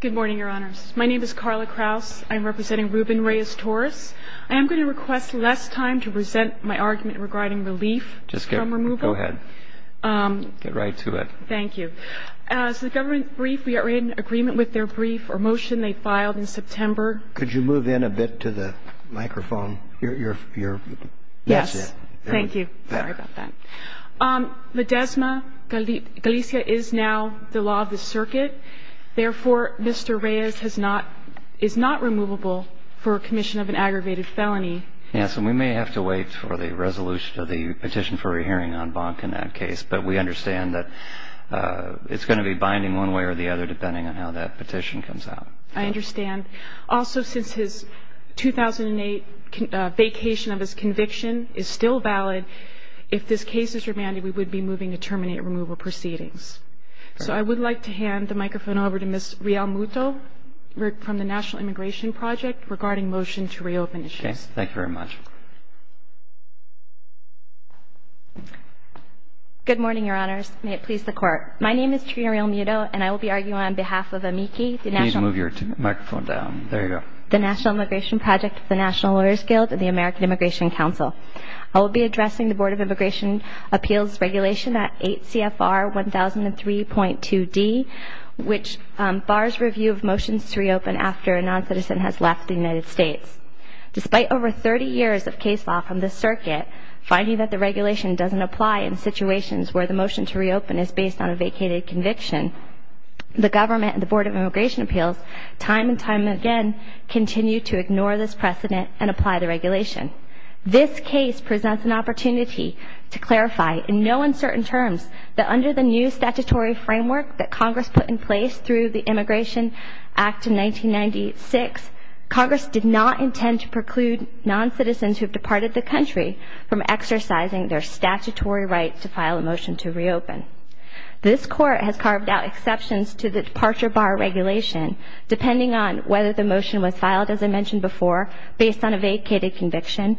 Good morning, Your Honors. My name is Carla Kraus. I'm representing Ruben Reyes-Torres. I am going to request less time to present my argument regarding relief from removal. Go ahead. Get right to it. Thank you. As to the government brief, we are in agreement with their brief or motion they filed in September. Could you move in a bit to the microphone? Yes. Thank you. Sorry about that. Videsma Galicia is now the law of the circuit. Therefore, Mr. Reyes is not removable for commission of an aggravated felony. Yes, and we may have to wait for the resolution of the petition for a hearing on Bonk in that case, but we understand that it's going to be binding one way or the other depending on how that petition comes out. I understand. Also, since his 2008 vacation of his conviction is still valid, if this case is remanded, we would be moving to terminate removal proceedings. So I would like to hand the microphone over to Ms. Riel Muto from the National Immigration Project regarding motion to reopen issues. Okay. Thank you very much. Good morning, Your Honors. May it please the Court. My name is Trina Riel Muto, and I will be arguing on behalf of AMICI, the National – Please move your microphone down. There you go. – the National Immigration Project of the National Lawyers Guild and the American Immigration Council. I will be addressing the Board of Immigration Appeals Regulation at 8 CFR 1003.2d, which bars review of motions to reopen after a noncitizen has left the United States. Despite over 30 years of case law from this circuit, finding that the regulation doesn't apply in situations where the motion to reopen is based on a vacated conviction, the government and the Board of Immigration Appeals time and time again continue to ignore this precedent and apply the regulation. This case presents an opportunity to clarify in no uncertain terms that under the new statutory framework that Congress put in place through the Immigration Act of 1996, Congress did not intend to preclude noncitizens who have departed the country from exercising their statutory right to file a motion to reopen. This Court has carved out exceptions to the departure bar regulation depending on whether the motion was filed, as I mentioned before, based on a vacated conviction,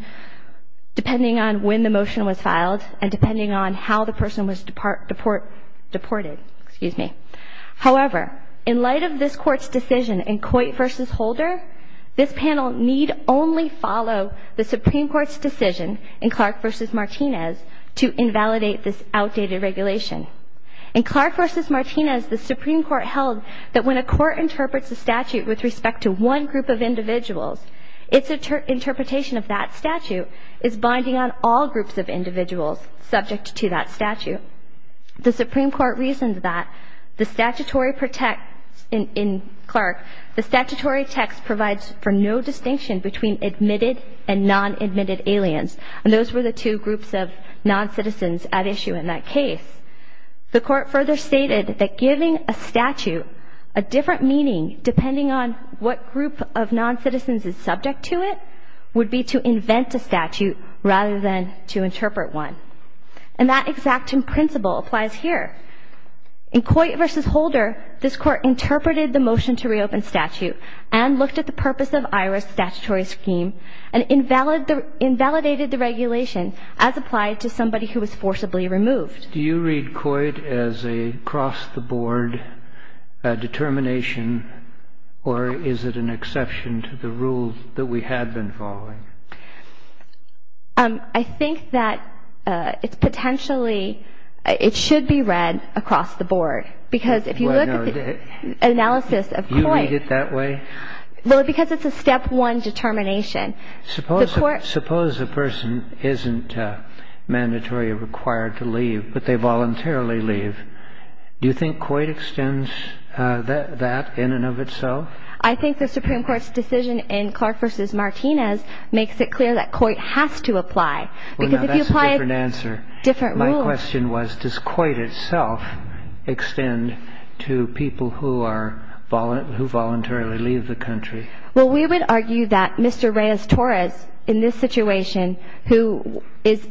depending on when the motion was filed, and depending on how the person was deported. However, in light of this Court's decision in Coit v. Holder, this panel need only follow the Supreme Court's decision in Clark v. Martinez to invalidate this outdated regulation. In Clark v. Martinez, the Supreme Court held that when a court interprets a statute with respect to one group of individuals, its interpretation of that statute is binding on all groups of individuals subject to that statute. The Supreme Court reasoned that the statutory text in Clark provides for no distinction between admitted and non-admitted aliens, and those were the two groups of noncitizens at issue in that case. The Court further stated that giving a statute a different meaning depending on what group of noncitizens is subject to it would be to invent a statute rather than to interpret one. And that exact same principle applies here. In Coit v. Holder, this Court interpreted the motion to reopen statute and looked at the purpose of IRS statutory scheme and invalidated the regulation as applied to somebody who was forcibly removed. Do you read Coit as a cross-the-board determination, or is it an exception to the rules that we had been following? I think that it's potentially, it should be read across the board, because if you look at the analysis of Coit. Do you read it that way? Well, because it's a step one determination. Suppose a person isn't mandatory or required to leave, but they voluntarily leave. Do you think Coit extends that in and of itself? I think the Supreme Court's decision in Clark v. Martinez makes it clear that Coit has to apply, because if you apply. Well, now, that's a different answer. Different rules. My question was, does Coit itself extend to people who are, who voluntarily leave the country? Well, we would argue that Mr. Reyes-Torres, in this situation, who is,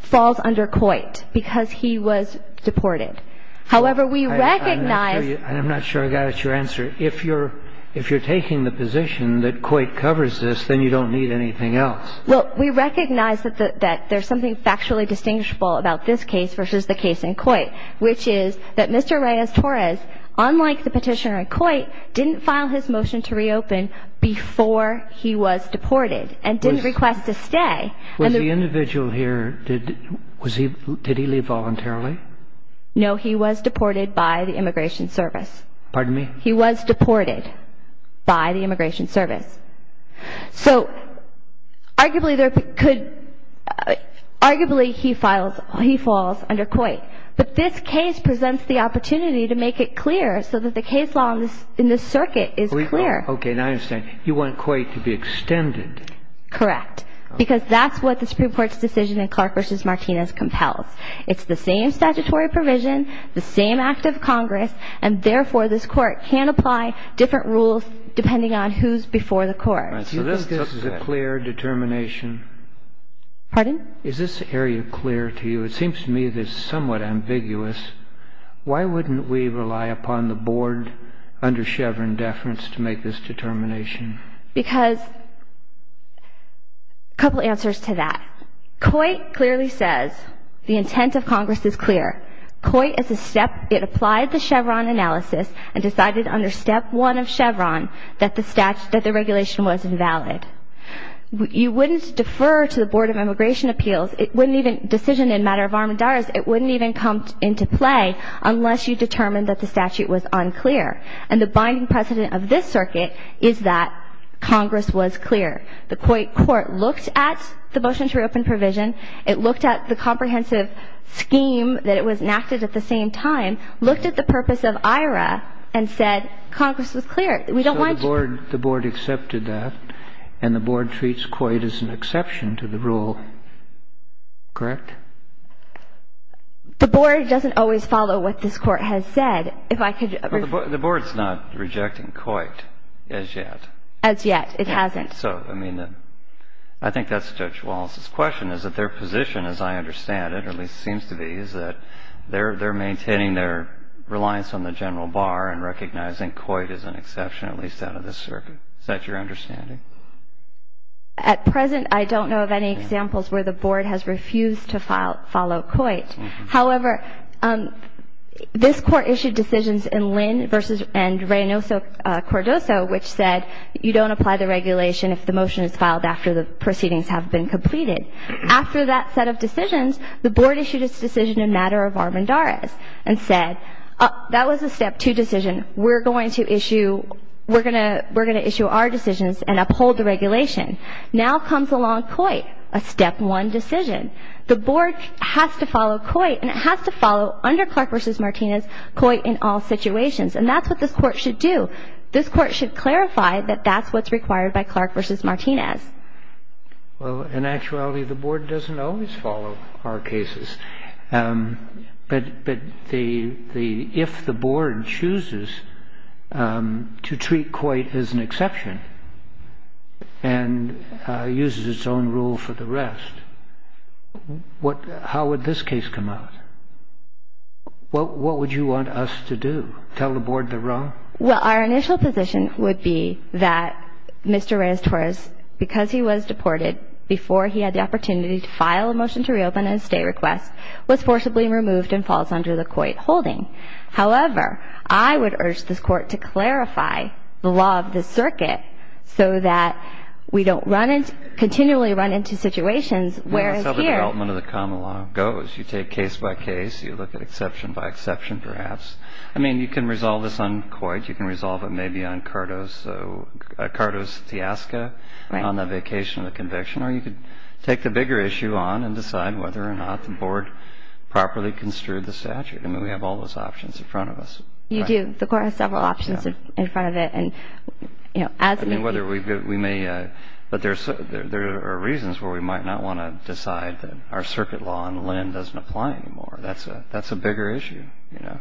falls under Coit because he was deported. However, we recognize. I'm not sure I got your answer. If you're taking the position that Coit covers this, then you don't need anything else. Well, we recognize that there's something factually distinguishable about this case versus the case in Coit, which is that Mr. Reyes-Torres, unlike the petitioner in Coit, didn't file his motion to reopen before he was deported and didn't request to stay. Was the individual here, did he leave voluntarily? No, he was deported by the Immigration Service. Pardon me? He was deported by the Immigration Service. So arguably there could, arguably he files, he falls under Coit. But this case presents the opportunity to make it clear so that the case law in this circuit is clear. Okay, now I understand. You want Coit to be extended. Correct. Because that's what the Supreme Court's decision in Clark v. Martinez compels. It's the same statutory provision, the same act of Congress, and therefore this Court can apply different rules depending on who's before the Court. So this is a clear determination. Pardon? Is this area clear to you? It seems to me that it's somewhat ambiguous. Why wouldn't we rely upon the Board under Chevron deference to make this determination? Because a couple answers to that. Coit clearly says the intent of Congress is clear. Coit is a step. It applied the Chevron analysis and decided under Step 1 of Chevron that the regulation was invalid. You wouldn't defer to the Board of Immigration Appeals. It wouldn't even, decision in matter of arm and diarist, it wouldn't even come into play unless you determined that the statute was unclear. And the binding precedent of this circuit is that Congress was clear. The Coit Court looked at the motion to reopen provision. It looked at the comprehensive scheme that it was enacted at the same time, looked at the purpose of IRA, and said Congress was clear. We don't want to do that. So the Board accepted that, and the Board treats Coit as an exception to the rule. Correct? The Board doesn't always follow what this Court has said. If I could rephrase that. The Board's not rejecting Coit as yet. As yet. It hasn't. So, I mean, I think that's Judge Wallace's question, is that their position, as I understand it, or at least seems to be, is that they're maintaining their reliance on the general bar and recognizing Coit as an exception, at least out of this circuit. Is that your understanding? At present, I don't know of any examples where the Board has refused to follow Coit. However, this Court issued decisions in Lynn v. Reynoso-Cordoso, which said you don't apply the regulation if the motion is filed after the proceedings have been completed. After that set of decisions, the Board issued its decision in matter of Armendariz and said that was a step two decision. We're going to issue our decisions and uphold the regulation. Now comes along Coit, a step one decision. The Board has to follow Coit, and it has to follow, under Clark v. Martinez, Coit in all situations. And that's what this Court should do. This Court should clarify that that's what's required by Clark v. Martinez. Well, in actuality, the Board doesn't always follow our cases. But if the Board chooses to treat Coit as an exception and uses its own rule for the rest, how would this case come out? What would you want us to do, tell the Board they're wrong? Well, our initial position would be that Mr. Reyes-Torres, because he was deported, before he had the opportunity to file a motion to reopen at a state request, was forcibly removed and falls under the Coit holding. However, I would urge this Court to clarify the law of the circuit so that we don't run into, continually run into situations where it's here. That's how the development of the common law goes. You take case by case. You look at exception by exception, perhaps. I mean, you can resolve this on Coit. You can resolve it maybe on Cardo's fiasco, on the vacation of the conviction. Or you could take the bigger issue on and decide whether or not the Board properly construed the statute. I mean, we have all those options in front of us. You do. The Court has several options in front of it. And, you know, as we... I mean, whether we may... But there are reasons where we might not want to decide that our circuit law on Lynn doesn't apply anymore. That's a bigger issue, you know.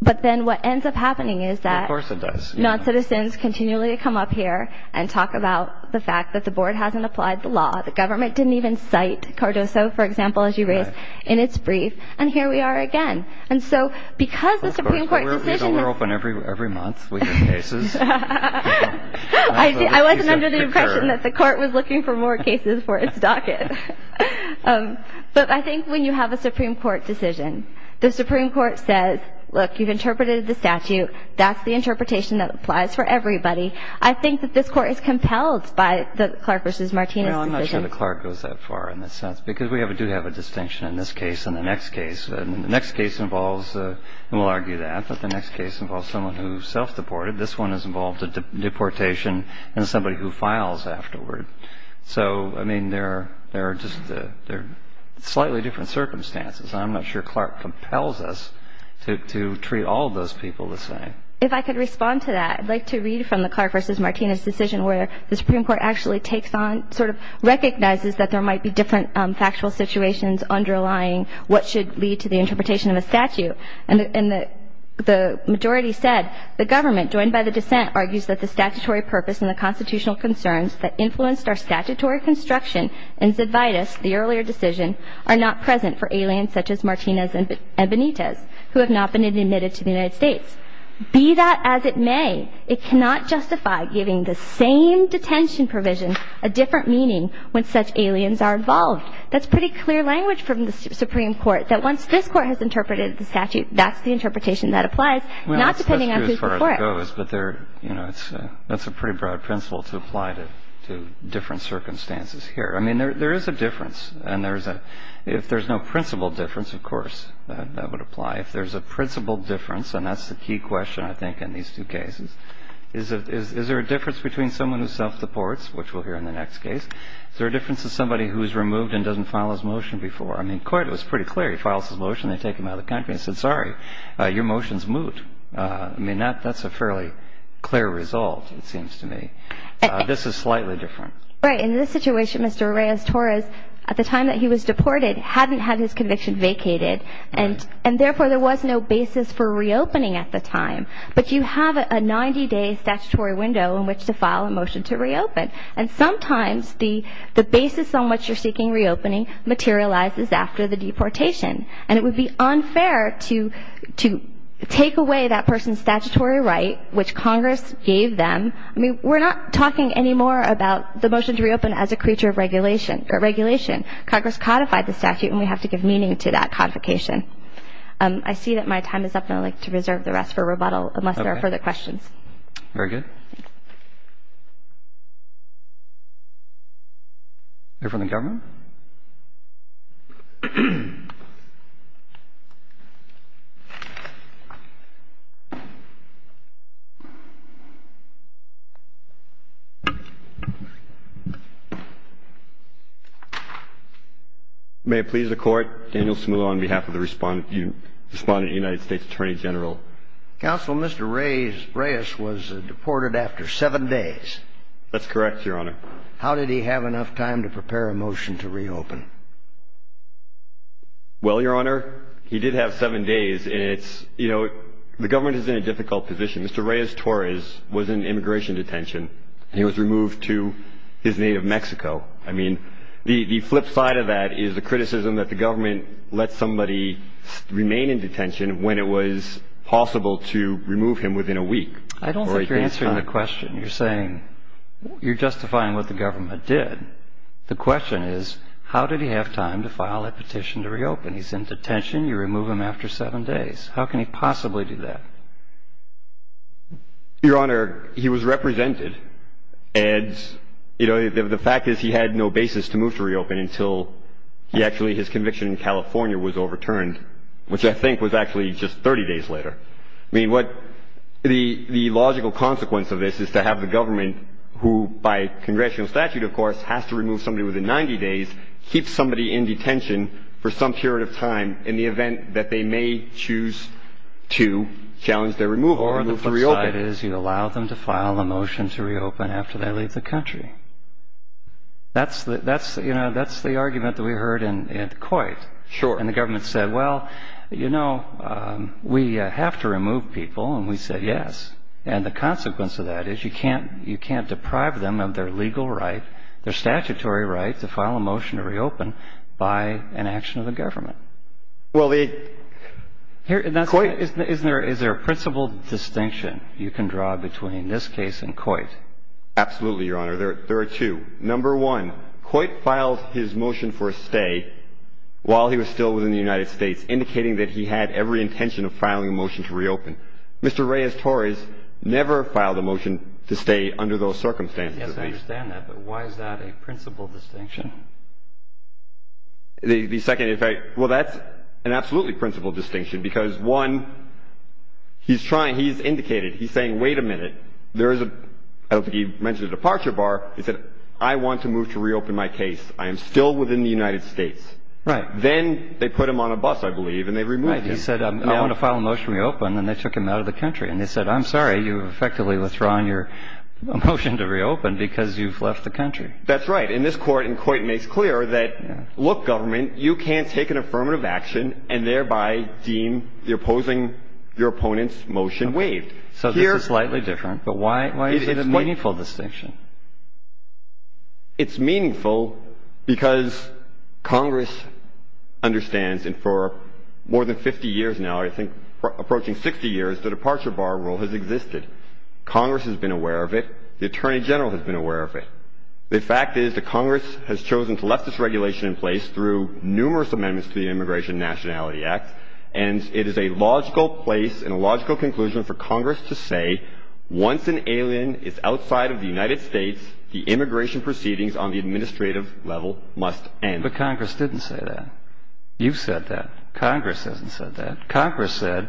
But then what ends up happening is that... Of course it does. Noncitizens continually come up here and talk about the fact that the Board hasn't applied the law. The government didn't even cite Cardoso, for example, as you raised, in its brief. And here we are again. And so because the Supreme Court decision... But we're open every month. We have cases. But I think when you have a Supreme Court decision, the Supreme Court says, Look, you've interpreted the statute. That's the interpretation that applies for everybody. I think that this Court is compelled by the Clark v. Martinez decision. Well, I'm not sure the Clark goes that far in that sense. Because we do have a distinction in this case and the next case. And the next case involves... And we'll argue that. But the next case involves someone who self-deported. This one has involved a deportation and somebody who files afterward. So, I mean, there are just slightly different circumstances. And I'm not sure Clark compels us to treat all of those people the same. If I could respond to that, I'd like to read from the Clark v. Martinez decision where the Supreme Court actually takes on... sort of recognizes that there might be different factual situations underlying what should lead to the interpretation of a statute. And the majority said, The government, joined by the dissent, argues that the statutory purpose and the constitutional concerns that influenced our statutory construction in Zedvitus, the earlier decision, are not present for aliens such as Martinez and Benitez, who have not been admitted to the United States. Be that as it may, it cannot justify giving the same detention provision a different meaning when such aliens are involved. That's pretty clear language from the Supreme Court that once this Court has interpreted the statute, that's the interpretation that applies, not depending on who's before it. That's a pretty broad principle to apply to different circumstances here. I mean, there is a difference. And if there's no principal difference, of course, that would apply. If there's a principal difference, and that's the key question, I think, in these two cases, is there a difference between someone who self-supports, which we'll hear in the next case, is there a difference to somebody who's removed and doesn't file his motion before? I mean, Coyd was pretty clear. He files his motion. They take him out of the country and say, Sorry, your motion's moved. I mean, that's a fairly clear result, it seems to me. This is slightly different. Right. In this situation, Mr. Reyes-Torres, at the time that he was deported, hadn't had his conviction vacated. And therefore, there was no basis for reopening at the time. But you have a 90-day statutory window in which to file a motion to reopen. And sometimes the basis on which you're seeking reopening materializes after the deportation. And it would be unfair to take away that person's statutory right, which Congress gave them. I mean, we're not talking anymore about the motion to reopen as a creature of regulation. Congress codified the statute, and we have to give meaning to that codification. I see that my time is up, and I'd like to reserve the rest for rebuttal unless there are further questions. Very good. Thank you. Anything from the government? May it please the Court. Daniel Smoot on behalf of the Respondent United States Attorney General. Counsel, Mr. Reyes was deported after seven days. That's correct, Your Honor. How did he have enough time to prepare a motion to reopen? Well, Your Honor, he did have seven days, and it's, you know, the government is in a difficult position. Mr. Reyes-Torres was in immigration detention, and he was removed to his native Mexico. I mean, the flip side of that is the criticism that the government let somebody remain in detention when it was possible to remove him within a week. I don't think you're answering the question. You're saying you're justifying what the government did. The question is, how did he have time to file a petition to reopen? He's in detention. You remove him after seven days. How can he possibly do that? Your Honor, he was represented. And, you know, the fact is he had no basis to move to reopen until he actually his conviction in California was overturned, which I think was actually just 30 days later. I mean, what the logical consequence of this is to have the government, who by congressional statute, of course, has to remove somebody within 90 days, keep somebody in detention for some period of time in the event that they may choose to challenge their removal or move to reopen. The flip side is you allow them to file a motion to reopen after they leave the country. That's the argument that we heard in Coit. Sure. And the government said, well, you know, we have to remove people, and we said yes. And the consequence of that is you can't deprive them of their legal right, their statutory right, to file a motion to reopen by an action of the government. Well, the Coit Is there a principle distinction you can draw between this case and Coit? Absolutely, Your Honor. There are two. Number one, Coit filed his motion for a stay while he was still within the United States, indicating that he had every intention of filing a motion to reopen. Mr. Reyes-Torres never filed a motion to stay under those circumstances. Yes, I understand that. But why is that a principle distinction? The second, in fact, well, that's an absolutely principle distinction because, one, he's trying, he's indicated, he's saying, wait a minute, there is a I don't think he mentioned a departure bar. He said, I want to move to reopen my case. I am still within the United States. Right. Then they put him on a bus, I believe, and they removed him. Right. He said, I want to file a motion to reopen, and they took him out of the country. And they said, I'm sorry, you've effectively withdrawn your motion to reopen because you've left the country. That's right. But in this court, in court, it makes clear that, look, government, you can't take an affirmative action and thereby deem the opposing your opponent's motion waived. So this is slightly different. But why is it a meaningful distinction? It's meaningful because Congress understands, and for more than 50 years now, I think approaching 60 years, the departure bar rule has existed. Congress has been aware of it. The Attorney General has been aware of it. The fact is that Congress has chosen to let this regulation in place through numerous amendments to the Immigration Nationality Act, and it is a logical place and a logical conclusion for Congress to say, once an alien is outside of the United States, the immigration proceedings on the administrative level must end. But Congress didn't say that. You've said that. Congress hasn't said that. Congress said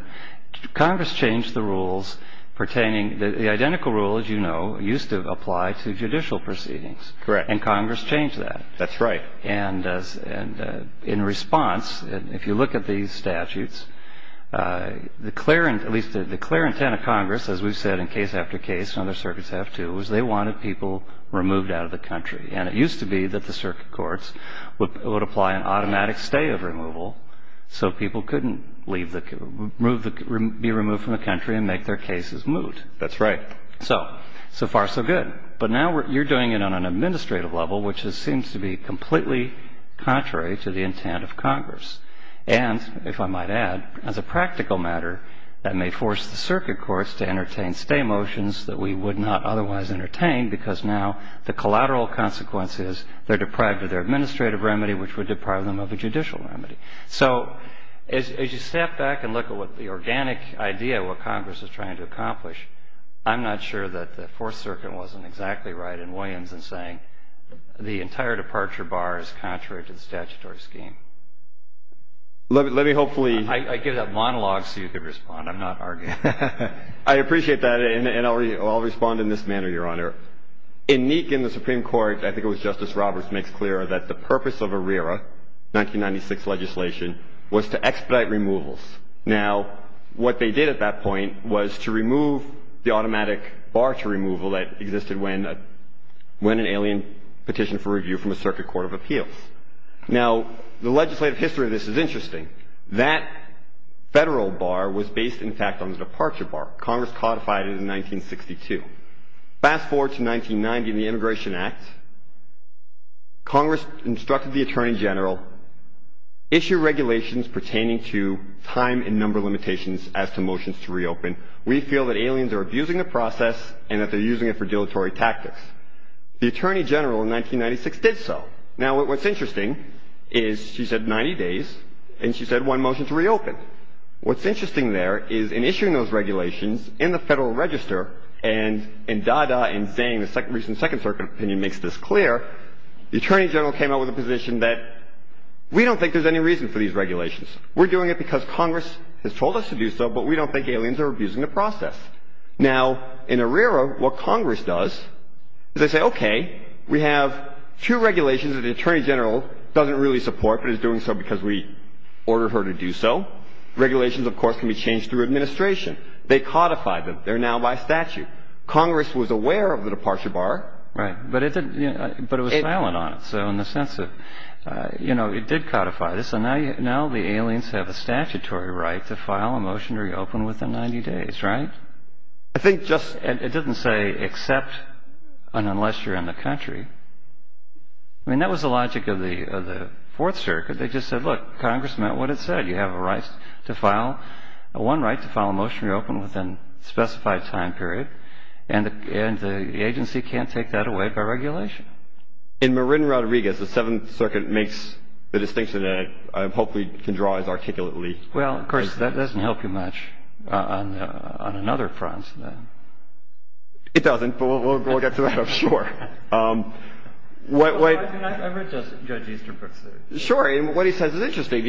Congress changed the rules pertaining, the identical rule, as you know, used to apply to judicial proceedings. Correct. And Congress changed that. That's right. And in response, if you look at these statutes, the clear, at least the clear intent of Congress, as we've said in case after case, and other circuits have too, is they wanted people removed out of the country. And it used to be that the circuit courts would apply an automatic stay of removal so people couldn't be removed from the country and make their cases moot. That's right. So far, so good. But now you're doing it on an administrative level, which seems to be completely contrary to the intent of Congress. And, if I might add, as a practical matter, that may force the circuit courts to entertain stay motions that we would not otherwise entertain because now the collateral consequence is they're deprived of their administrative remedy, which would deprive them of a judicial remedy. So as you step back and look at what the organic idea of what Congress is trying to accomplish, I'm not sure that the Fourth Circuit wasn't exactly right in Williams in saying the entire departure bar is contrary to the statutory scheme. Let me hopefully – I gave that monologue so you could respond. I'm not arguing. I appreciate that, and I'll respond in this manner, Your Honor. In Neek and the Supreme Court, I think it was Justice Roberts makes clear that the purpose of ARERA, 1996 legislation, was to expedite removals. Now, what they did at that point was to remove the automatic bar to removal that existed when an alien petitioned for review from a circuit court of appeals. Now, the legislative history of this is interesting. That federal bar was based, in fact, on the departure bar. Congress codified it in 1962. Fast forward to 1990 in the Immigration Act. Congress instructed the Attorney General, issue regulations pertaining to time and number limitations as to motions to reopen. We feel that aliens are abusing the process and that they're using it for dilatory tactics. The Attorney General in 1996 did so. Now, what's interesting is she said 90 days, and she said one motion to reopen. What's interesting there is in issuing those regulations in the Federal Register and in DADA and saying the recent Second Circuit opinion makes this clear, the Attorney General came out with a position that we don't think there's any reason for these regulations. We're doing it because Congress has told us to do so, but we don't think aliens are abusing the process. Now, in ARERA, what Congress does is they say, okay, we have two regulations that the Attorney General doesn't really support but is doing so because we ordered her to do so. Regulations, of course, can be changed through administration. They codified them. They're now by statute. Congress was aware of the departure bar. Right. But it was silent on it. So in the sense of, you know, it did codify this, and now the aliens have a statutory right to file a motion to reopen within 90 days, right? I think just — it doesn't say except and unless you're in the country. I mean, that was the logic of the Fourth Circuit. They just said, look, Congress meant what it said. You have a right to file — one right to file a motion to reopen within a specified time period, and the agency can't take that away by regulation. In Marin-Rodriguez, the Seventh Circuit makes the distinction that I hope we can draw as articulately. Well, of course, that doesn't help you much on another front. It doesn't, but we'll get to that, I'm sure. What — I've read Judge Easterbrook's — Sure. And what he says is interesting.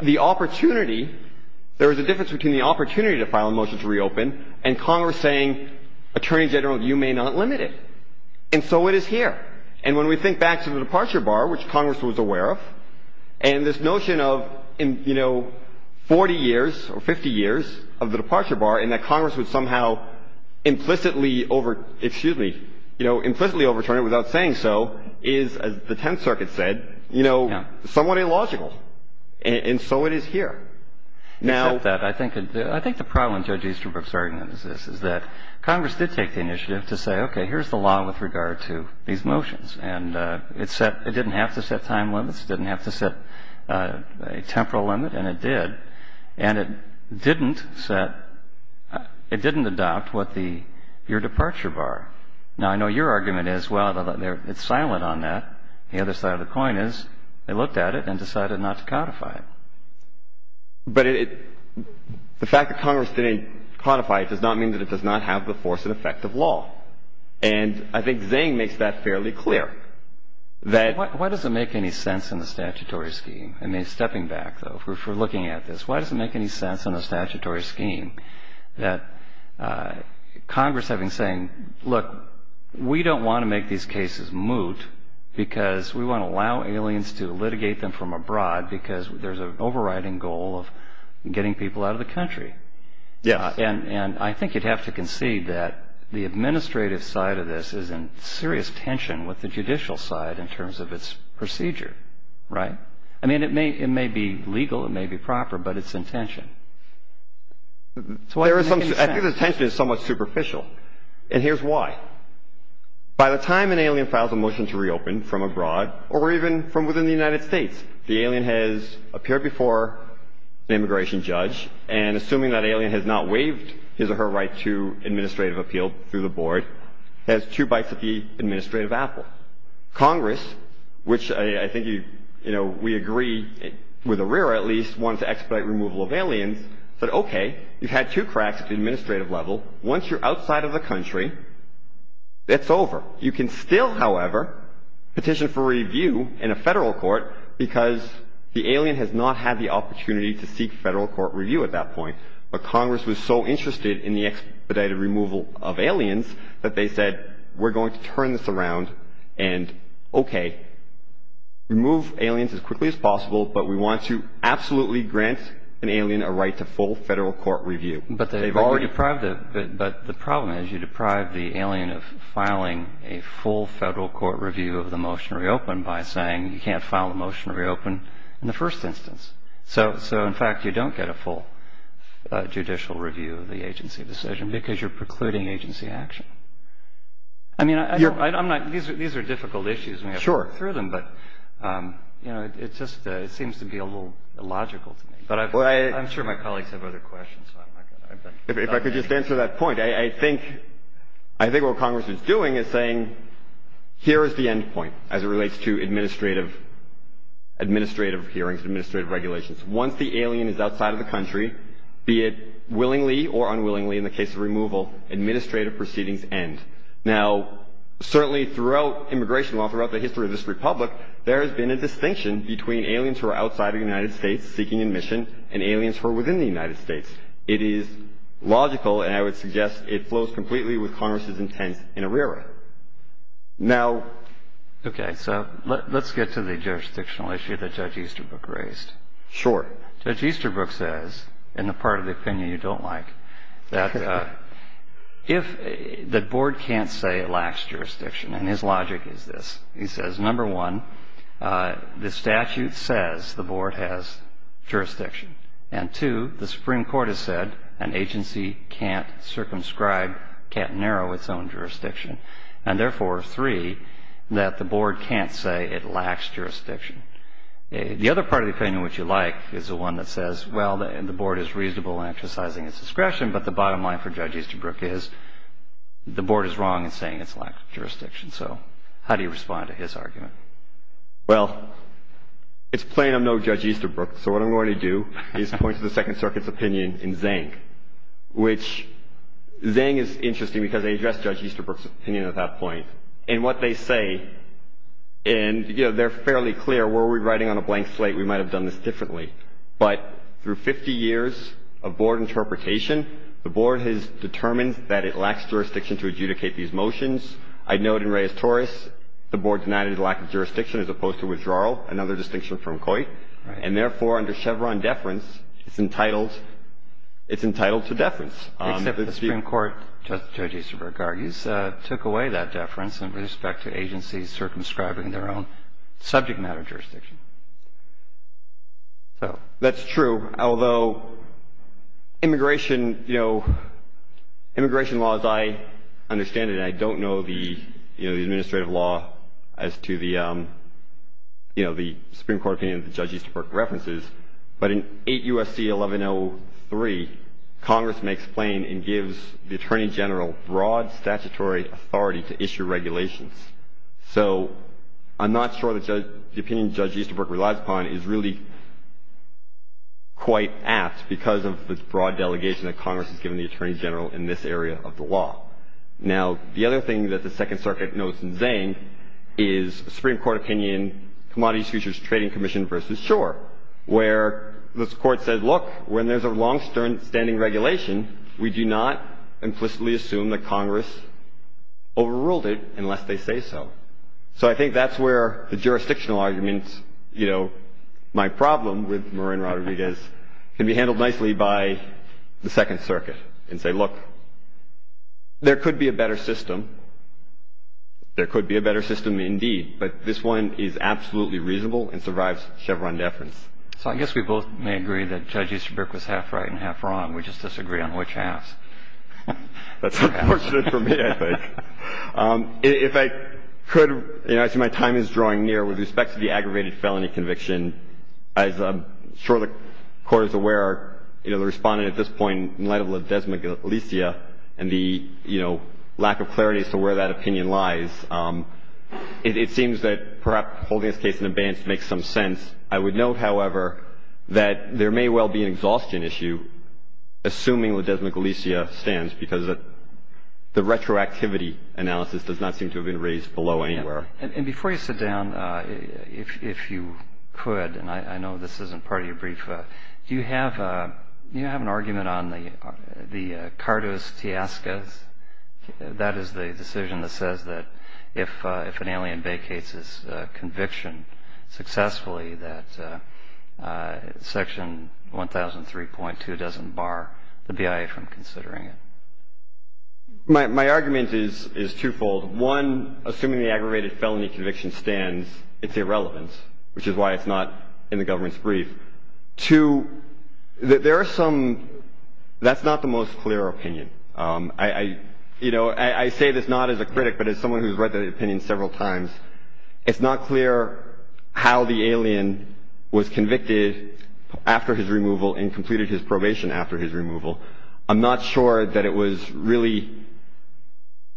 The opportunity — there is a difference between the opportunity to file a motion to reopen and Congress saying, attorneys general, you may not limit it. And so it is here. And when we think back to the departure bar, which Congress was aware of, and this notion of, you know, 40 years or 50 years of the departure bar and that Congress would somehow implicitly over — excuse me, you know, implicitly overturn it without saying so, is, as the Tenth Circuit said, you know, somewhat illogical. And so it is here. Except that I think — I think the problem in Judge Easterbrook's argument is this, is that Congress did take the initiative to say, okay, here's the law with regard to these motions. And it set — it didn't have to set time limits. It didn't have to set a temporal limit. And it did. And it didn't set — it didn't adopt what the — your departure bar. Now, I know your argument is, well, it's silent on that. The other side of the coin is they looked at it and decided not to codify it. But it — the fact that Congress didn't codify it does not mean that it does not have the force and effect of law. And I think Zane makes that fairly clear, that — Why does it make any sense in the statutory scheme? I mean, stepping back, though, if we're looking at this, why does it make any sense in the statutory scheme that Congress having said, look, we don't want to make these cases moot because we want to allow aliens to litigate them from abroad because there's an overriding goal of getting people out of the country. Yes. And I think you'd have to concede that the administrative side of this is in serious tension with the judicial side in terms of its procedure. Right? I mean, it may be legal. It may be proper. But it's in tension. So why does it make any sense? I think the tension is somewhat superficial. And here's why. By the time an alien files a motion to reopen from abroad or even from within the United States, the alien has appeared before an immigration judge. And assuming that alien has not waived his or her right to administrative appeal through the board, has two bites at the administrative apple. Congress, which I think we agree, with ARIRA at least, wants to expedite removal of aliens, said, okay, you've had two cracks at the administrative level. Once you're outside of the country, it's over. You can still, however, petition for review in a federal court because the alien has not had the opportunity to seek federal court review at that point. But Congress was so interested in the expedited removal of aliens that they said, we're going to turn this around and, okay, remove aliens as quickly as possible, but we want to absolutely grant an alien a right to full federal court review. But the problem is you deprive the alien of filing a full federal court review of the motion to reopen by saying you can't file a motion to reopen in the first instance. So, in fact, you don't get a full judicial review of the agency decision because you're precluding agency action. I mean, these are difficult issues and we have to work through them, but it just seems to be a little illogical to me. I'm sure my colleagues have other questions. If I could just answer that point, I think what Congress is doing is saying, here is the end point as it relates to administrative hearings and administrative regulations. Once the alien is outside of the country, be it willingly or unwillingly in the case of removal, administrative proceedings end. Now, certainly throughout immigration law, throughout the history of this republic, there has been a distinction between aliens who are outside of the United States seeking admission and aliens who are within the United States. It is logical and I would suggest it flows completely with Congress's intent in ARERA. Now... Okay, so let's get to the jurisdictional issue that Judge Easterbrook raised. Sure. Judge Easterbrook says, in the part of the opinion you don't like, that if the board can't say it lacks jurisdiction, and his logic is this. He says, number one, the statute says the board has jurisdiction, and two, the Supreme Court has said an agency can't circumscribe, can't narrow its own jurisdiction, and therefore, three, that the board can't say it lacks jurisdiction. The other part of the opinion which you like is the one that says, well, the board is reasonable in exercising its discretion, but the bottom line for Judge Easterbrook is the board is wrong in saying it lacks jurisdiction. So how do you respond to his argument? Well, it's plain I'm no Judge Easterbrook, so what I'm going to do is point to the Second Circuit's opinion in Zhang, which Zhang is interesting because they addressed Judge Easterbrook's opinion at that point. And what they say, and, you know, they're fairly clear. Were we writing on a blank slate, we might have done this differently. But through 50 years of board interpretation, the board has determined that it lacks jurisdiction to adjudicate these motions. I note in Reyes-Torres the board denied it a lack of jurisdiction as opposed to withdrawal, another distinction from Coit. And therefore, under Chevron deference, it's entitled to deference. Except the Supreme Court, Judge Easterbrook argues, took away that deference in respect to agencies circumscribing their own subject matter jurisdiction. So that's true. Although immigration, you know, immigration laws, I understand it. I don't know the, you know, the administrative law as to the, you know, the Supreme Court opinion that Judge Easterbrook references. But in 8 U.S.C. 1103, Congress makes plain and gives the Attorney General broad statutory authority to issue regulations. So I'm not sure that the opinion Judge Easterbrook relies upon is really quite apt because of the broad delegation that Congress has given the Attorney General in this area of the law. Now, the other thing that the Second Circuit notes in Zane is Supreme Court opinion, Commodities Futures Trading Commission versus Schor, where this Court said, look, when there's a long-standing regulation, we do not implicitly assume that Congress overruled it unless they say so. So I think that's where the jurisdictional arguments, you know, my problem with Marin Rodriguez can be handled nicely by the Second Circuit and say, look, there could be a better system. There could be a better system indeed. But this one is absolutely reasonable and survives Chevron deference. So I guess we both may agree that Judge Easterbrook was half right and half wrong. We just disagree on which half. That's unfortunate for me, I think. If I could, you know, I see my time is drawing near. With respect to the aggravated felony conviction, as I'm sure the Court is aware, you know, the Respondent at this point, in light of the desmalicia and the, you know, lack of clarity as to where that opinion lies, it seems that perhaps holding this case in abeyance makes some sense. I would note, however, that there may well be an exhaustion issue, assuming the desmalicia stands, because the retroactivity analysis does not seem to have been raised below anywhere. And before you sit down, if you could, and I know this isn't part of your brief, do you have an argument on the cardos teascas? That is the decision that says that if an alien vacates his conviction successfully, that Section 1003.2 doesn't bar the BIA from considering it. My argument is twofold. One, assuming the aggravated felony conviction stands, it's irrelevant, which is why it's not in the government's brief. Two, there are some, that's not the most clear opinion. You know, I say this not as a critic, but as someone who's read the opinion several times, it's not clear how the alien was convicted after his removal and completed his probation after his removal. I'm not sure that it was really,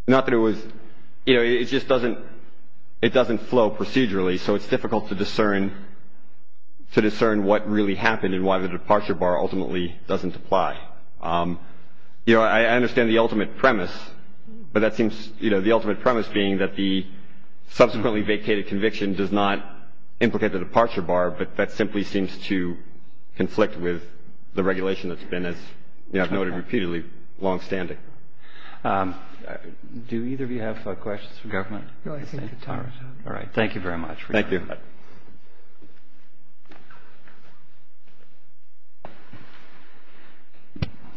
not that it was, you know, it just doesn't flow procedurally, so it's difficult to discern what really happened and why the departure bar ultimately doesn't apply. You know, I understand the ultimate premise, but that seems, you know, the ultimate premise being that the subsequently vacated conviction does not implicate the departure bar, but that simply seems to conflict with the regulation that's been, as you have noted repeatedly, longstanding. Do either of you have questions for government? All right. Thank you very much. Thank you.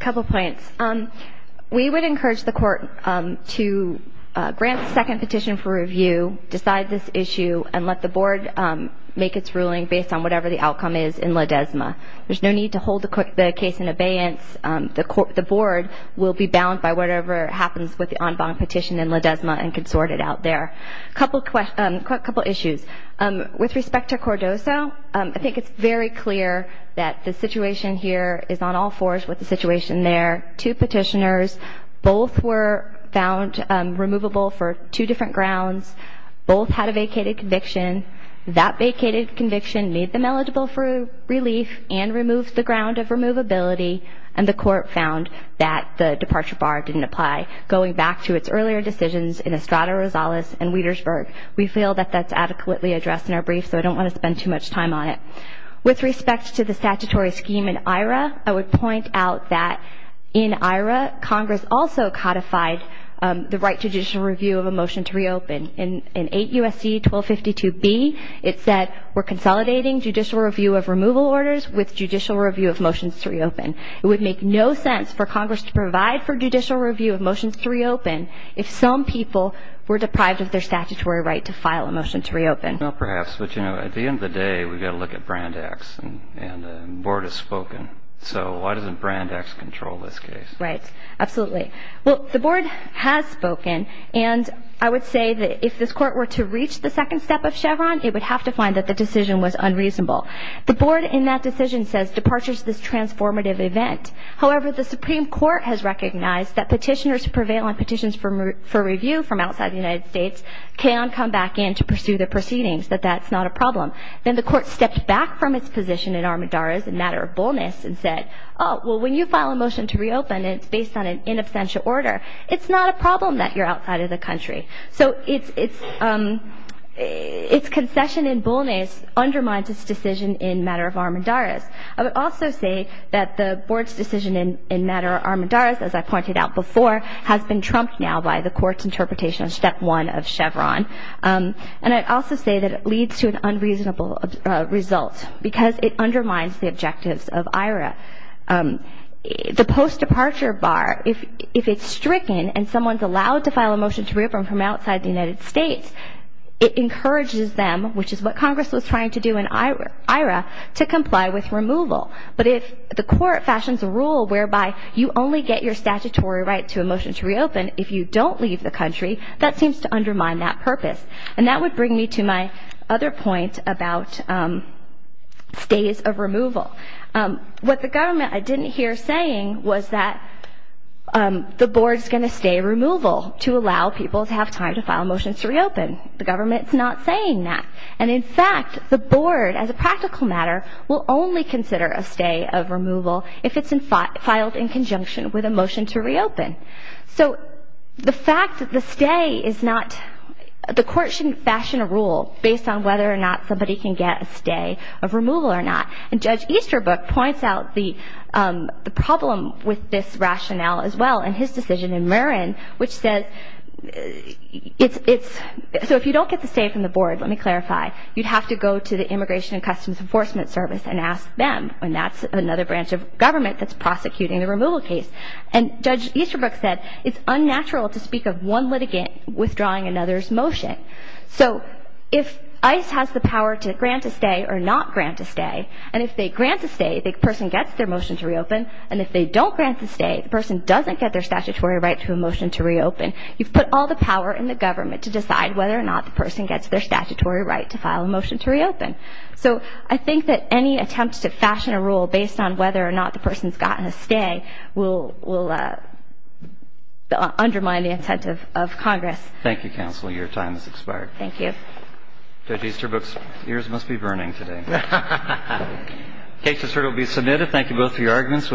A couple points. We would encourage the court to grant a second petition for review, decide this issue, and let the board make its ruling based on whatever the outcome is in La Desma. There's no need to hold the case in abeyance. The board will be bound by whatever happens with the en banc petition in La Desma and can sort it out there. A couple issues. With respect to Cordoso, I think it's very clear that the situation here is on all fours with the situation there. Two petitioners, both were found removable for two different grounds. Both had a vacated conviction. That vacated conviction made them eligible for relief and removed the ground of removability, and the court found that the departure bar didn't apply. Going back to its earlier decisions in Estrada Rosales and Wietersburg, we feel that that's adequately addressed in our brief, so I don't want to spend too much time on it. With respect to the statutory scheme in IHRA, I would point out that in IHRA, Congress also codified the right to judicial review of a motion to reopen. In 8 U.S.C. 1252b, it said we're consolidating judicial review of removal orders with judicial review of motions to reopen. It would make no sense for Congress to provide for judicial review of motions to reopen if some people were deprived of their statutory right to file a motion to reopen. Well, perhaps. But, you know, at the end of the day, we've got to look at Brand X, and the board has spoken. So why doesn't Brand X control this case? Right. Absolutely. Well, the board has spoken, and I would say that if this court were to reach the second step of Chevron, it would have to find that the decision was unreasonable. The board in that decision says departure is this transformative event. However, the Supreme Court has recognized that petitioners who prevail on petitions for review from outside the United States can come back in to pursue the proceedings, that that's not a problem. Then the court stepped back from its position in Armendariz and Matter of Bolness and said, oh, well, when you file a motion to reopen and it's based on an in absentia order, it's not a problem that you're outside of the country. So its concession in Bolness undermines its decision in Matter of Armendariz. I would also say that the board's decision in Matter of Armendariz, as I pointed out before, has been trumped now by the court's interpretation of step one of Chevron. And I'd also say that it leads to an unreasonable result because it undermines the objectives of IHRA. The post-departure bar, if it's stricken and someone's allowed to file a motion to reopen from outside the United States, it encourages them, which is what Congress was trying to do in IHRA, to comply with removal. But if the court fashions a rule whereby you only get your statutory right to a motion to reopen if you don't leave the country, that seems to undermine that purpose. And that would bring me to my other point about stays of removal. What the government I didn't hear saying was that the board's going to stay removal to allow people to have time to file motions to reopen. The government's not saying that. And, in fact, the board, as a practical matter, will only consider a stay of removal if it's filed in conjunction with a motion to reopen. So the fact that the stay is not – the court shouldn't fashion a rule based on whether or not somebody can get a stay of removal or not. And Judge Easterbrook points out the problem with this rationale as well in his decision in Marin, which says it's – so if you don't get the stay from the board, let me clarify, you'd have to go to the Immigration and Customs Enforcement Service and ask them, and that's another branch of government that's prosecuting the removal case. And Judge Easterbrook said it's unnatural to speak of one litigant withdrawing another's motion. So if ICE has the power to grant a stay or not grant a stay, and if they grant a stay, the person gets their motion to reopen, and if they don't grant the stay, you've put all the power in the government to decide whether or not the person gets their statutory right to file a motion to reopen. So I think that any attempt to fashion a rule based on whether or not the person's gotten a stay will undermine the intent of Congress. Thank you, Counsel. Your time has expired. Thank you. Judge Easterbrook's ears must be burning today. The case has heard and will be submitted. Thank you both for your arguments.